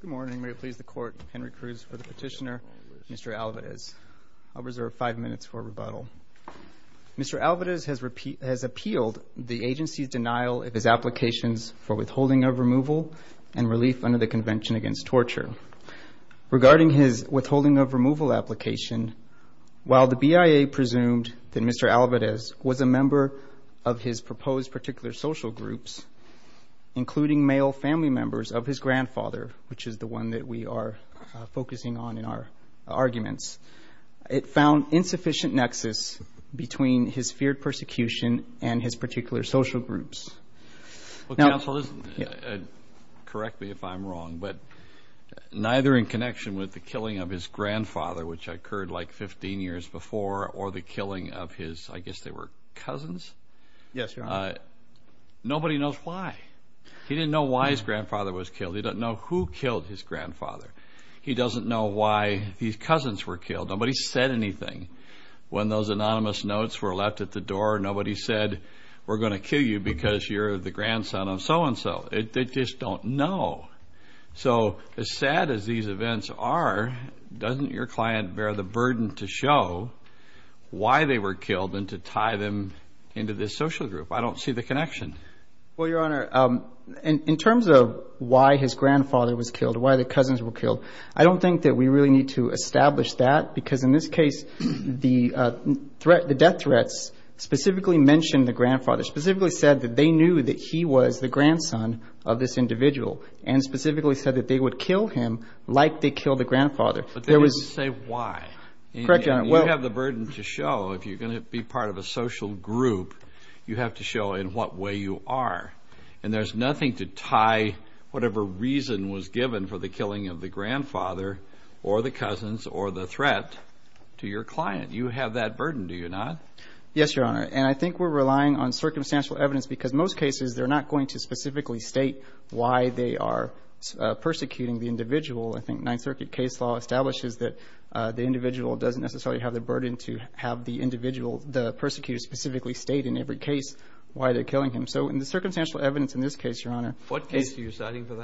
Good morning. May it please the Court, Henry Cruz for the petitioner, Mr. Alvarez. I'll reserve five minutes for rebuttal. Mr. Alvarez has appealed the agency's denial of his applications for withholding of removal and relief under the Convention Against Torture. Regarding his withholding of removal application, while the BIA presumed that Mr. Alvarez was a member of his proposed particular social groups, including male family members of his grandfather, which is the one that we are focusing on in our arguments, it found insufficient nexus between his feared persecution and his particular social groups. Well, counsel, correct me if I'm wrong, but neither in connection with the killing of his grandfather, which occurred like 15 years before, or the killing of his, I guess they were cousins? Yes, Your Honor. Nobody knows why. He didn't know why his grandfather was killed. He doesn't know who killed his grandfather. He doesn't know why his cousins were killed. Nobody said anything. When those anonymous notes were left at the door, nobody said, we're going to kill you because you're the grandson of so-and-so. They just don't know. So as sad as these events are, doesn't your client bear the burden to show why they were killed and to tie them into this social group? I don't see the connection. Well, Your Honor, in terms of why his grandfather was killed, why the cousins were killed, I don't think that we really need to establish that, because in this case the death threats specifically mentioned the grandfather, specifically said that they knew that he was the grandson of this individual, and specifically said that they would kill him like they killed the grandfather. But they didn't say why. Correct, Your Honor. You have the burden to show if you're going to be part of a social group, you have to show in what way you are. And there's nothing to tie whatever reason was given for the killing of the grandfather or the cousins or the threat to your client. You have that burden, do you not? Yes, Your Honor. And I think we're relying on circumstantial evidence, because most cases they're not going to specifically state why they are persecuting the individual. I think Ninth Circuit case law establishes that the individual doesn't necessarily have the burden to have the individual, the persecutor, specifically state in every case why they're killing him. So in the circumstantial evidence in this case, Your Honor. What case are you citing for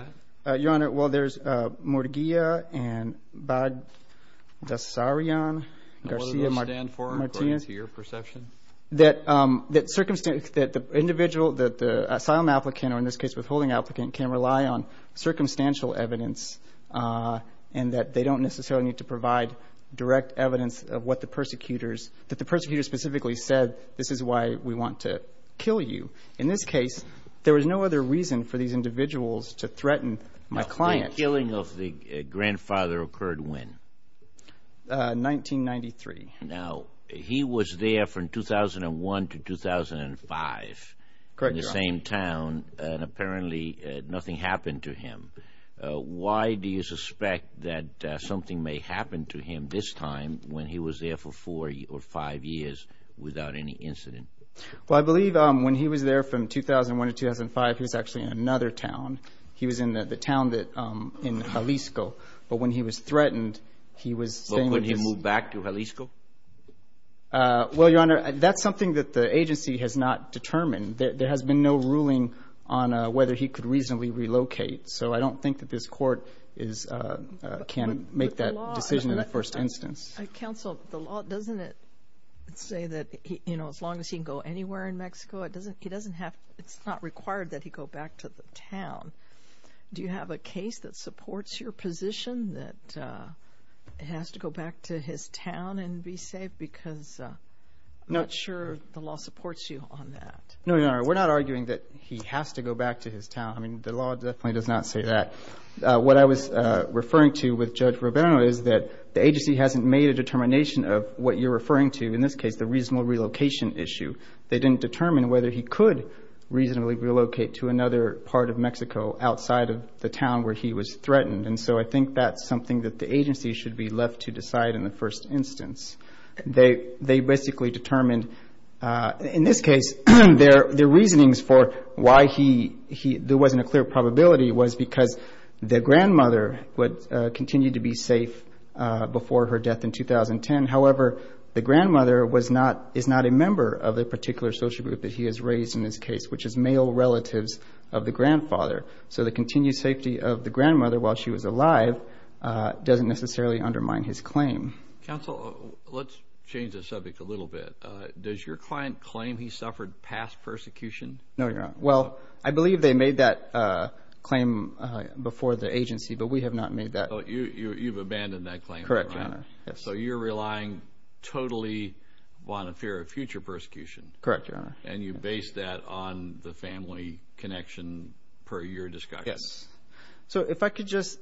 that? Your Honor, well, there's Mordeguia and Badassarian, Garcia, Martinez. And what do those stand for according to your perception? That the individual, that the asylum applicant, or in this case withholding applicant, can rely on circumstantial evidence and that they don't necessarily need to provide direct evidence of what the persecutors, that the persecutor specifically said, this is why we want to kill you. In this case, there was no other reason for these individuals to threaten my client. Now, the killing of the grandfather occurred when? 1993. Now, he was there from 2001 to 2005. Correct, Your Honor. In the same town, and apparently nothing happened to him. Why do you suspect that something may happen to him this time when he was there for four or five years without any incident? Well, I believe when he was there from 2001 to 2005, he was actually in another town. He was in the town in Jalisco. But when he was threatened, he was saying that this. When he moved back to Jalisco? Well, Your Honor, that's something that the agency has not determined. There has been no ruling on whether he could reasonably relocate. So I don't think that this court can make that decision in the first instance. Counsel, the law doesn't say that as long as he can go anywhere in Mexico, it's not required that he go back to the town. Do you have a case that supports your position that he has to go back to his town and be safe? Because I'm not sure the law supports you on that. No, Your Honor. We're not arguing that he has to go back to his town. I mean, the law definitely does not say that. What I was referring to with Judge Rubino is that the agency hasn't made a determination of what you're referring to, in this case, the reasonable relocation issue. They didn't determine whether he could reasonably relocate to another part of Mexico, outside of the town where he was threatened. And so I think that's something that the agency should be left to decide in the first instance. They basically determined, in this case, their reasonings for why there wasn't a clear probability was because the grandmother would continue to be safe before her death in 2010. However, the grandmother is not a member of the particular social group that he has raised in this case, which is male relatives of the grandfather. So the continued safety of the grandmother while she was alive doesn't necessarily undermine his claim. Counsel, let's change the subject a little bit. Does your client claim he suffered past persecution? No, Your Honor. Well, I believe they made that claim before the agency, but we have not made that. Oh, you've abandoned that claim. Correct, Your Honor. So you're relying totally on a fear of future persecution. Correct, Your Honor. And you base that on the family connection per your discussion. Yes. So if I could just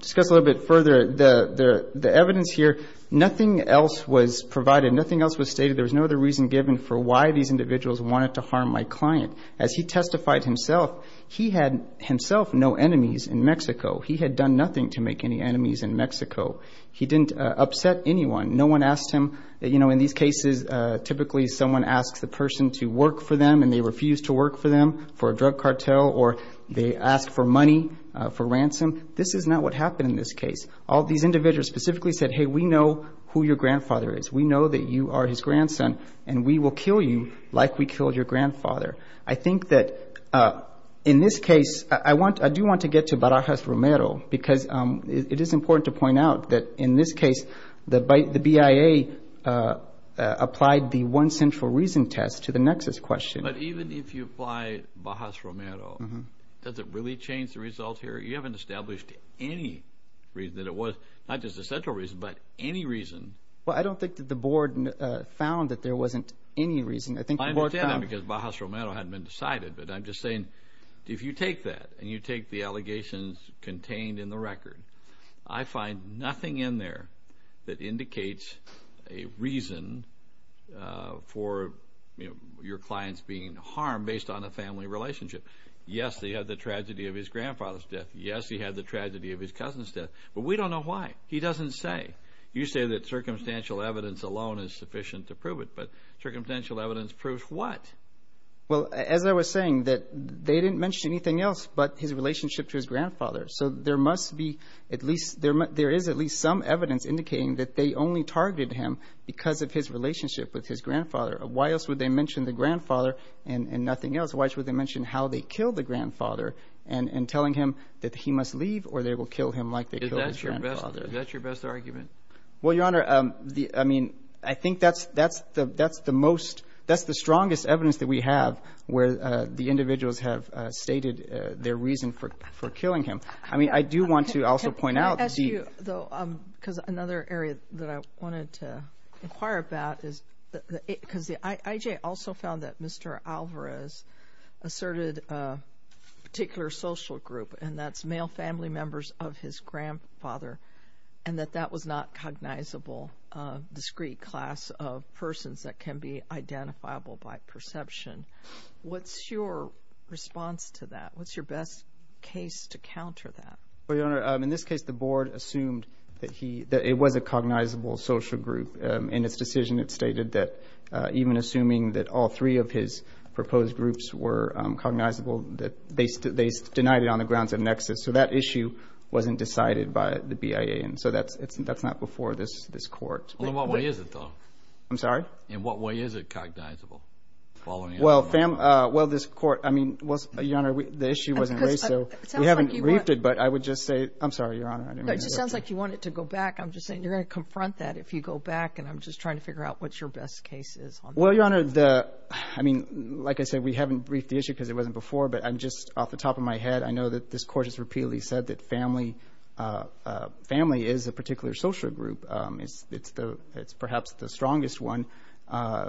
discuss a little bit further the evidence here. Nothing else was provided. Nothing else was stated. There was no other reason given for why these individuals wanted to harm my client. As he testified himself, he had himself no enemies in Mexico. He had done nothing to make any enemies in Mexico. He didn't upset anyone. No one asked him. You know, in these cases, typically someone asks the person to work for them and they refuse to work for them for a drug cartel or they ask for money for ransom. This is not what happened in this case. All these individuals specifically said, hey, we know who your grandfather is. We know that you are his grandson, and we will kill you like we killed your grandfather. I think that in this case, I do want to get to Barajas-Romero because it is important to point out that in this case, the BIA applied the one central reason test to the nexus question. But even if you apply Barajas-Romero, does it really change the results here? You haven't established any reason that it was, not just a central reason, but any reason. Well, I don't think that the board found that there wasn't any reason. I think the board found that. I understand that because Barajas-Romero hadn't been decided, but I'm just saying if you take that and you take the allegations contained in the record, I find nothing in there that indicates a reason for your clients being harmed based on a family relationship. Yes, he had the tragedy of his grandfather's death. Yes, he had the tragedy of his cousin's death. But we don't know why. He doesn't say. You say that circumstantial evidence alone is sufficient to prove it, but circumstantial evidence proves what? Well, as I was saying, that they didn't mention anything else but his relationship to his grandfather. So there must be at least – there is at least some evidence indicating that they only targeted him because of his relationship with his grandfather. Why else would they mention the grandfather and nothing else? Why else would they mention how they killed the grandfather and telling him that he must leave or they will kill him like they killed his grandfather? Is that your best argument? Well, Your Honor, I mean, I think that's the most – that's the strongest evidence that we have where the individuals have stated their reason for killing him. I mean, I do want to also point out the – Can I ask you, though, because another area that I wanted to inquire about is – because the IJ also found that Mr. Alvarez asserted a particular social group, and that's male family members of his grandfather, and that that was not cognizable discrete class of persons that can be identifiable by perception. What's your response to that? What's your best case to counter that? Well, Your Honor, in this case, the board assumed that he – that it was a cognizable social group. In its decision, it stated that even assuming that all three of his proposed groups were cognizable, they denied it on the grounds of nexus. So that issue wasn't decided by the BIA, and so that's not before this court. In what way is it, though? I'm sorry? In what way is it cognizable? Well, this court – I mean, Your Honor, the issue wasn't raised, so we haven't briefed it, but I would just say – I'm sorry, Your Honor. It just sounds like you want it to go back. I'm just saying you're going to confront that if you go back, and I'm just trying to figure out what your best case is. Well, Your Honor, the – I mean, like I said, we haven't briefed the issue because it wasn't before, but just off the top of my head, I know that this court has repeatedly said that family – family is a particular social group. It's perhaps the strongest one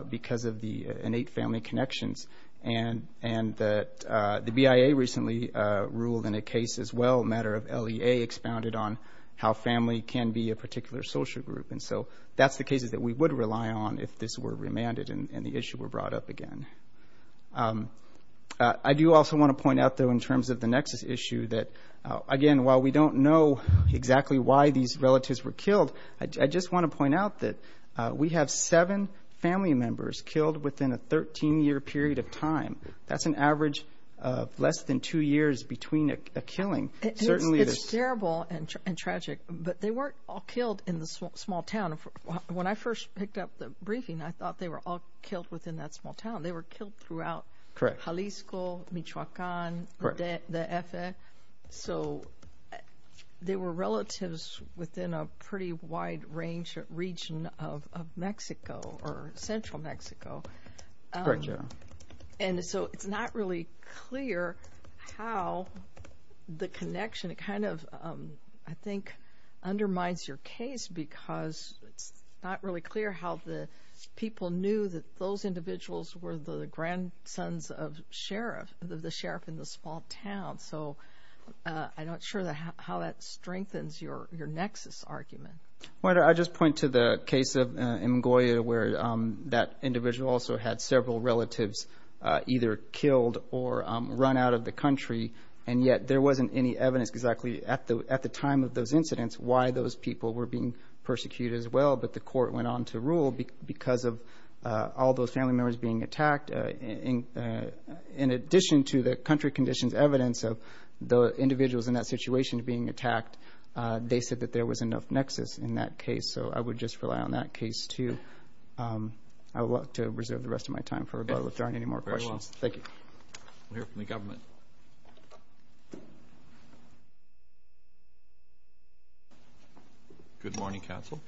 because of the innate family connections, and that the BIA recently ruled in a case as well, a matter of LEA, expounded on how family can be a particular social group. And so that's the cases that we would rely on if this were remanded and the issue were brought up again. I do also want to point out, though, in terms of the next issue that, again, while we don't know exactly why these relatives were killed, I just want to point out that we have seven family members killed within a 13-year period of time. That's an average of less than two years between a killing. It's terrible and tragic, but they weren't all killed in the small town. When I first picked up the briefing, I thought they were all killed within that small town. They were killed throughout Jalisco, Michoacan, the EFE. So they were relatives within a pretty wide range – region of Mexico or central Mexico. Correct, Your Honor. And so it's not really clear how the connection kind of, I think, undermines your case because it's not really clear how the people knew that those individuals were the grandsons of sheriff, of the sheriff in the small town. So I'm not sure how that strengthens your nexus argument. Well, I just point to the case of Mgoya where that individual also had several relatives either killed or run out of the country, and yet there wasn't any evidence exactly at the time of those incidents why those people were being persecuted as well, but the court went on to rule because of all those family members being attacked. In addition to the country conditions evidence of the individuals in that situation being attacked, they said that there was enough nexus in that case. So I would just rely on that case, too. I would like to reserve the rest of my time for rebuttal if there aren't any more questions. Thank you. We'll hear from the government. Good morning, counsel.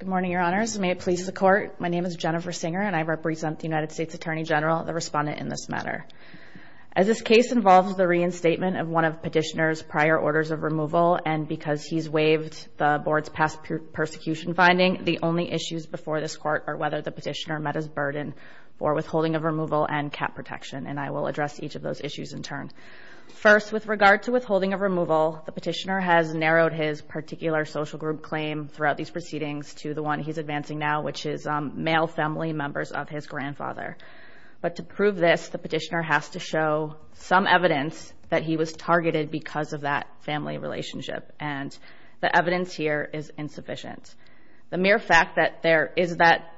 Good morning, Your Honors. May it please the Court, my name is Jennifer Singer, and I represent the United States Attorney General, the respondent in this matter. As this case involves the reinstatement of one of Petitioner's prior orders of removal, and because he's waived the Board's past persecution finding, the only issues before this Court are whether the Petitioner met his burden for withholding of removal and cap protection, and I will address each of those issues in turn. First, with regard to withholding of removal, the Petitioner has narrowed his particular social group claim throughout these proceedings to the one he's advancing now, which is male family members of his grandfather. But to prove this, the Petitioner has to show some evidence that he was targeted because of that family relationship, and the evidence here is insufficient. The mere fact that there is that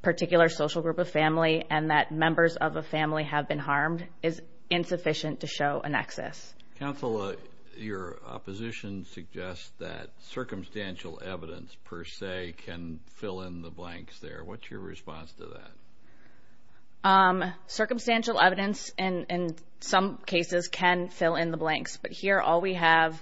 particular social group of family and that members of a family have been harmed is insufficient to show a nexus. Counsel, your opposition suggests that circumstantial evidence, per se, can fill in the blanks there. What's your response to that? Circumstantial evidence in some cases can fill in the blanks, but here all we have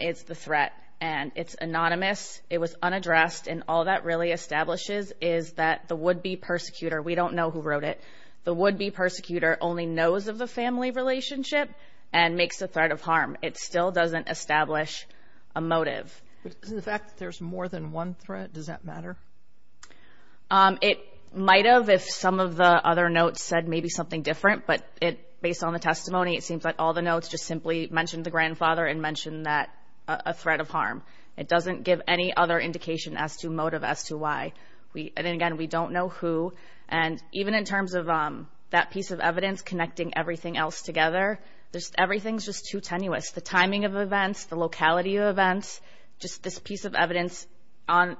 is the threat, and it's anonymous, it was unaddressed, and all that really establishes is that the would-be persecutor, we don't know who wrote it, the would-be persecutor only knows of the family relationship and makes a threat of harm. It still doesn't establish a motive. The fact that there's more than one threat, does that matter? It might have if some of the other notes said maybe something different, but based on the testimony it seems like all the notes just simply mentioned the grandfather and mentioned a threat of harm. It doesn't give any other indication as to motive as to why. And again, we don't know who, and even in terms of that piece of evidence connecting everything else together, everything's just too tenuous. The timing of events, the locality of events, just this piece of evidence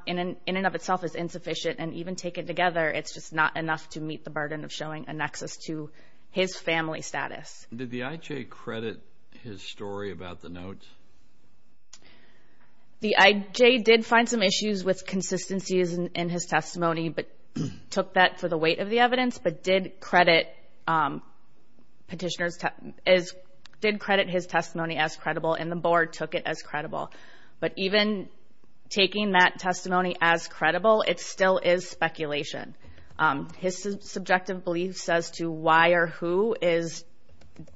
in and of itself is insufficient, and even taken together, it's just not enough to meet the burden of showing a nexus to his family status. Did the IJ credit his story about the notes? The IJ did find some issues with consistencies in his testimony but took that for the weight of the evidence, but did credit his testimony as credible, and the board took it as credible. But even taking that testimony as credible, it still is speculation. His subjective belief as to why or who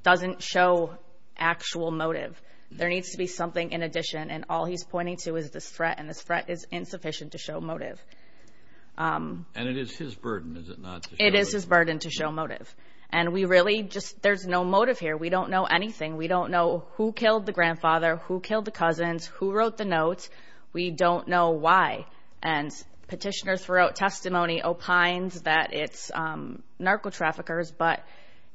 doesn't show actual motive. There needs to be something in addition, and all he's pointing to is this threat, and this threat is insufficient to show motive. And it is his burden, is it not? It is his burden to show motive. And we really just, there's no motive here. We don't know anything. We don't know who killed the grandfather, who killed the cousins, who wrote the notes. We don't know why. And petitioners throughout testimony opines that it's narco-traffickers, but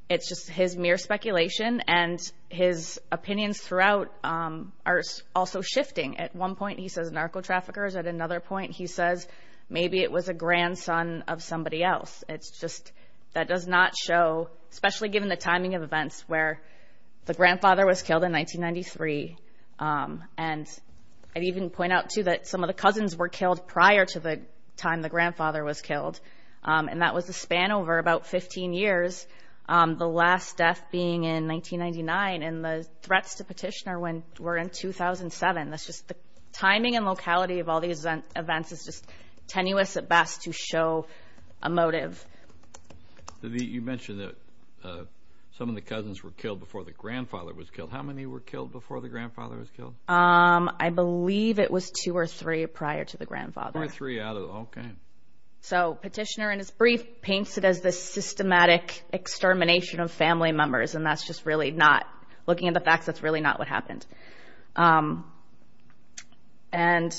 it's just his mere speculation, and his opinions throughout are also shifting. At one point he says narco-traffickers. At another point he says maybe it was a grandson of somebody else. It's just that does not show, especially given the timing of events, where the grandfather was killed in 1993. And I'd even point out, too, that some of the cousins were killed prior to the time the grandfather was killed, and that was the span over about 15 years, the last death being in 1999, and the threats to petitioner were in 2007. That's just the timing and locality of all these events is just tenuous at best to show a motive. You mentioned that some of the cousins were killed before the grandfather was killed. How many were killed before the grandfather was killed? I believe it was two or three prior to the grandfather. Three out of, okay. So petitioner in his brief paints it as this systematic extermination of family members, and that's just really not, looking at the facts, that's really not what happened. And,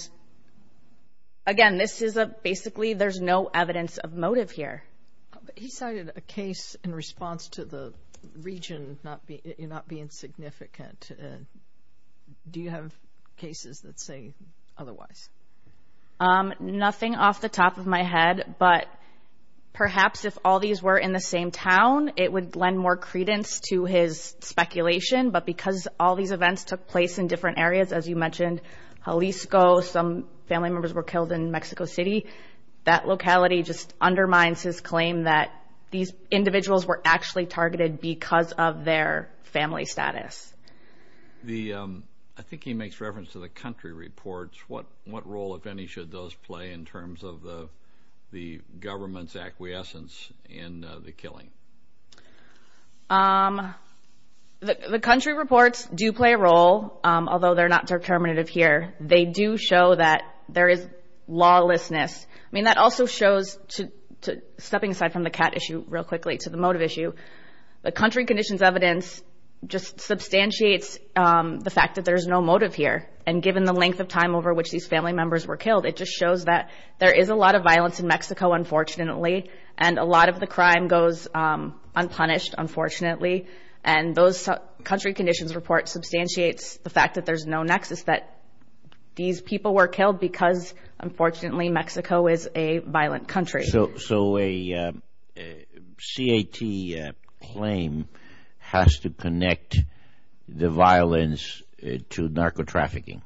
again, this is a basically there's no evidence of motive here. He cited a case in response to the region not being significant. Do you have cases that say otherwise? Nothing off the top of my head, but perhaps if all these were in the same town it would lend more credence to his speculation, but because all these events took place in different areas, as you mentioned, Jalisco, some family members were killed in Mexico City, that locality just undermines his claim that these individuals were actually targeted because of their family status. I think he makes reference to the country reports. What role, if any, should those play in terms of the government's acquiescence in the killing? The country reports do play a role, although they're not determinative here. They do show that there is lawlessness. I mean, that also shows, stepping aside from the cat issue real quickly to the motive issue, the country conditions evidence just substantiates the fact that there's no motive here, and given the length of time over which these family members were killed, it just shows that there is a lot of violence in Mexico, unfortunately, and a lot of the crime goes unpunished, unfortunately, and those country conditions reports substantiate the fact that there's no nexus, that these people were killed because, unfortunately, Mexico is a violent country. So a CAT claim has to connect the violence to narco-trafficking,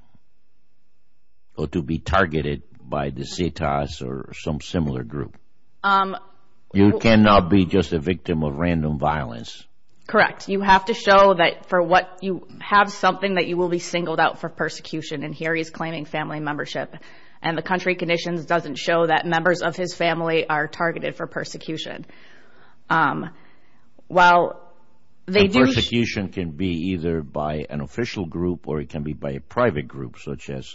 or to be targeted by the CETAs or some similar group. You cannot be just a victim of random violence. Correct. You have to show that for what you have something that you will be singled out for persecution, and here he's claiming family membership, and the country conditions doesn't show that members of his family are targeted for persecution. The persecution can be either by an official group or it can be by a private group, such as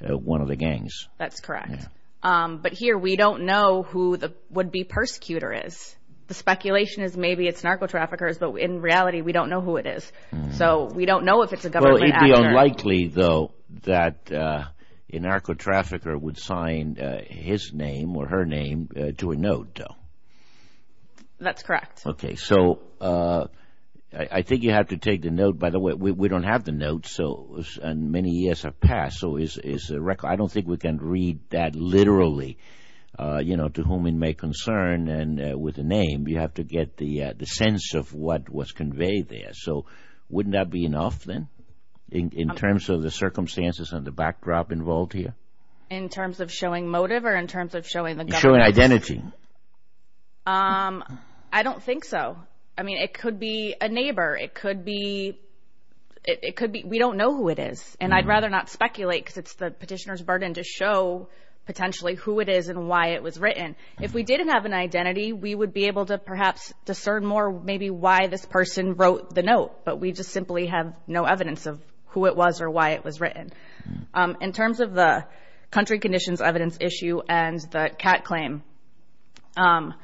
one of the gangs. That's correct. But here we don't know who the would-be persecutor is. The speculation is maybe it's narco-traffickers, but in reality we don't know who it is. So we don't know if it's a government actor. It would be unlikely, though, that a narco-trafficker would sign his name or her name to a note, though. That's correct. Okay. So I think you have to take the note. By the way, we don't have the notes, and many years have passed. So I don't think we can read that literally, you know, to whom it may concern, and with a name you have to get the sense of what was conveyed there. So wouldn't that be enough, then, in terms of the circumstances and the backdrop involved here? In terms of showing motive or in terms of showing the government? Showing identity. I don't think so. I mean, it could be a neighbor. It could be we don't know who it is, and I'd rather not speculate because it's the petitioner's burden to show potentially who it is and why it was written. If we didn't have an identity, we would be able to perhaps discern more maybe why this person wrote the note, but we just simply have no evidence of who it was or why it was written. In terms of the country conditions evidence issue and the cat claim, the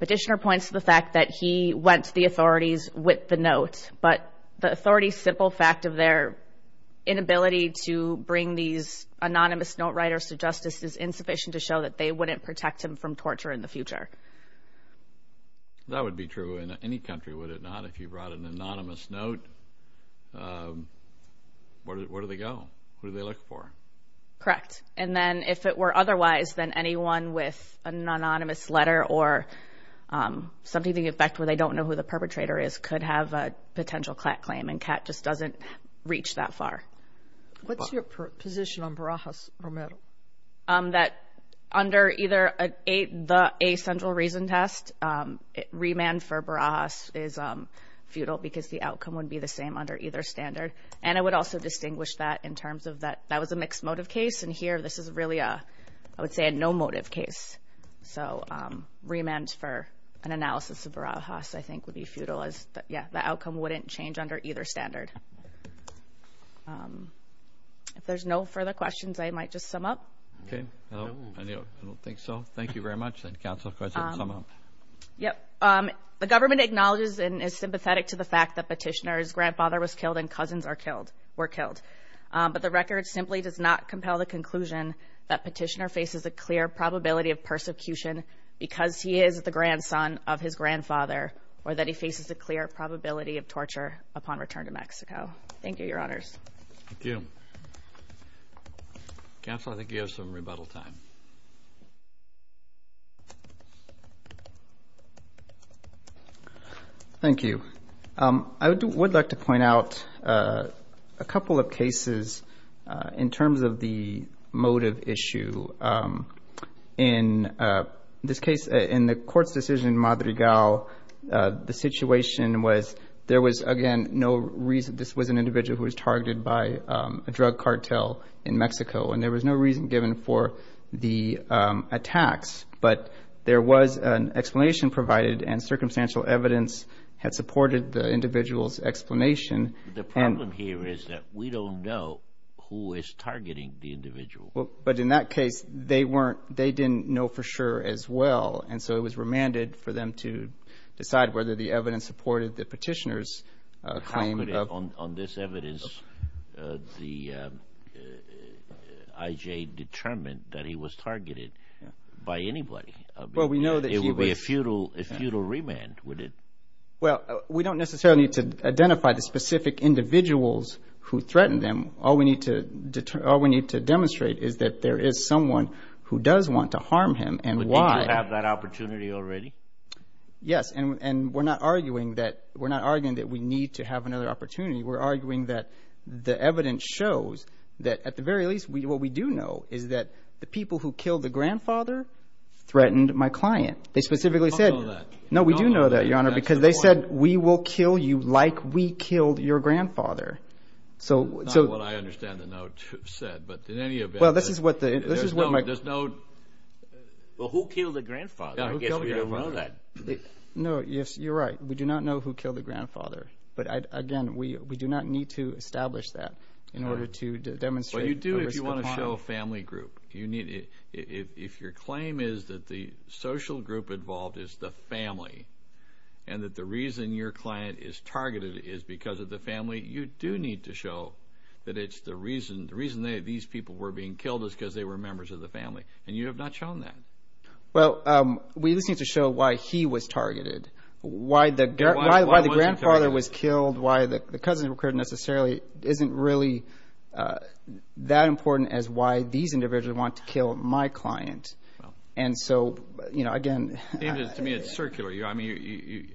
petitioner points to the fact that he went to the authorities, whipped the note, but the authorities' simple fact of their inability to bring these anonymous note writers to justice is insufficient to show that they wouldn't protect him from torture in the future. That would be true in any country, would it not? If you brought an anonymous note, where do they go? Who do they look for? Correct, and then if it were otherwise, then anyone with an anonymous letter or something to the effect where they don't know who the perpetrator is could have a potential cat claim, and cat just doesn't reach that far. What's your position on Barajas, Romero? That under either the A central reason test, remand for Barajas is futile because the outcome would be the same under either standard, and I would also distinguish that in terms of that that was a mixed motive case, and here this is really I would say a no motive case. So remand for an analysis of Barajas I think would be futile. Yeah, the outcome wouldn't change under either standard. If there's no further questions, I might just sum up. Okay. I don't think so. Thank you very much. Counsel, go ahead and sum up. Yep. The government acknowledges and is sympathetic to the fact that Petitioner's grandfather was killed and cousins were killed, but the record simply does not compel the conclusion that Petitioner faces a clear probability of persecution because he is the grandson of his grandfather or that he faces a clear probability of torture upon return to Mexico. Thank you, Your Honors. Thank you. Counsel, I think you have some rebuttal time. Thank you. I would like to point out a couple of cases in terms of the motive issue. In this case, in the court's decision in Madrigal, the situation was there was, again, no reason this was an individual who was targeted by a drug cartel in Mexico, and there was no reason given for the attacks, but there was an explanation provided and circumstantial evidence had supported the individual's explanation. The problem here is that we don't know who is targeting the individual. But in that case, they didn't know for sure as well, and so it was remanded for them to decide whether the evidence supported the Petitioner's claim. On this evidence, the IJ determined that he was targeted by anybody. Well, we know that he was. It would be a futile remand, would it? Well, we don't necessarily need to identify the specific individuals who threatened them. All we need to demonstrate is that there is someone who does want to harm him and why. But did you have that opportunity already? Yes, and we're not arguing that we need to have another opportunity. We're arguing that the evidence shows that, at the very least, what we do know is that the people who killed the grandfather threatened my client. They specifically said— We don't know that. No, we do know that, Your Honor, because they said, like we killed your grandfather. Not what I understand the note said, but in any event— Well, this is what the— There's no— Well, who killed the grandfather? I guess we don't know that. No, you're right. We do not know who killed the grandfather. But, again, we do not need to establish that in order to demonstrate a risk of harm. Well, you do if you want to show a family group. If your claim is that the social group involved is the family and that the reason your client is targeted is because of the family, you do need to show that it's the reason these people were being killed is because they were members of the family, and you have not shown that. Well, we just need to show why he was targeted, why the grandfather was killed, why the cousin occurred necessarily isn't really that important as why these individuals want to kill my client. And so, you know, again— To me, it's circular. I mean,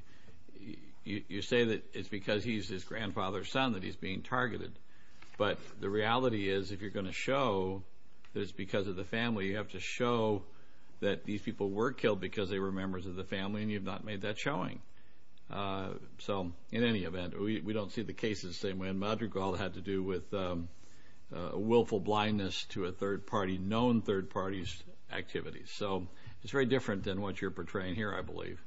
you say that it's because he's his grandfather's son that he's being targeted, but the reality is if you're going to show that it's because of the family, you have to show that these people were killed because they were members of the family, and you've not made that showing. So, in any event, we don't see the case the same way in Madrigal. It had to do with willful blindness to a third party, known third party's activities. So it's very different than what you're portraying here, I believe.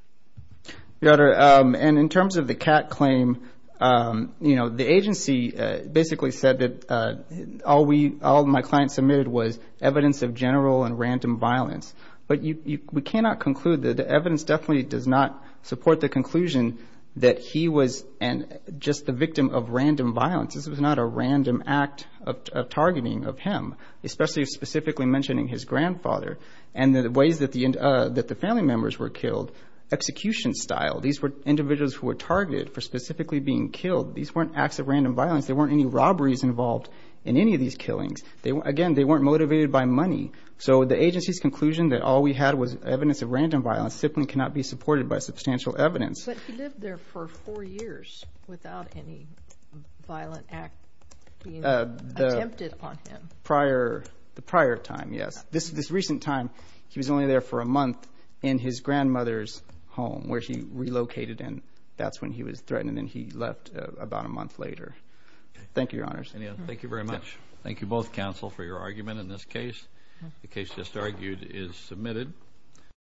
Your Honor, and in terms of the Catt claim, you know, the agency basically said that all my client submitted was evidence of general and random violence. But we cannot conclude that the evidence definitely does not support the conclusion that he was just the victim of random violence. This was not a random act of targeting of him, especially specifically mentioning his grandfather, and the ways that the family members were killed, execution style. These were individuals who were targeted for specifically being killed. These weren't acts of random violence. There weren't any robberies involved in any of these killings. Again, they weren't motivated by money. So the agency's conclusion that all we had was evidence of random violence simply cannot be supported by substantial evidence. But he lived there for four years without any violent act being attempted on him. The prior time, yes. This recent time, he was only there for a month in his grandmother's home, where she relocated, and that's when he was threatened, and he left about a month later. Thank you, Your Honors. Thank you very much. Thank you both, counsel, for your argument in this case. The case just argued is submitted.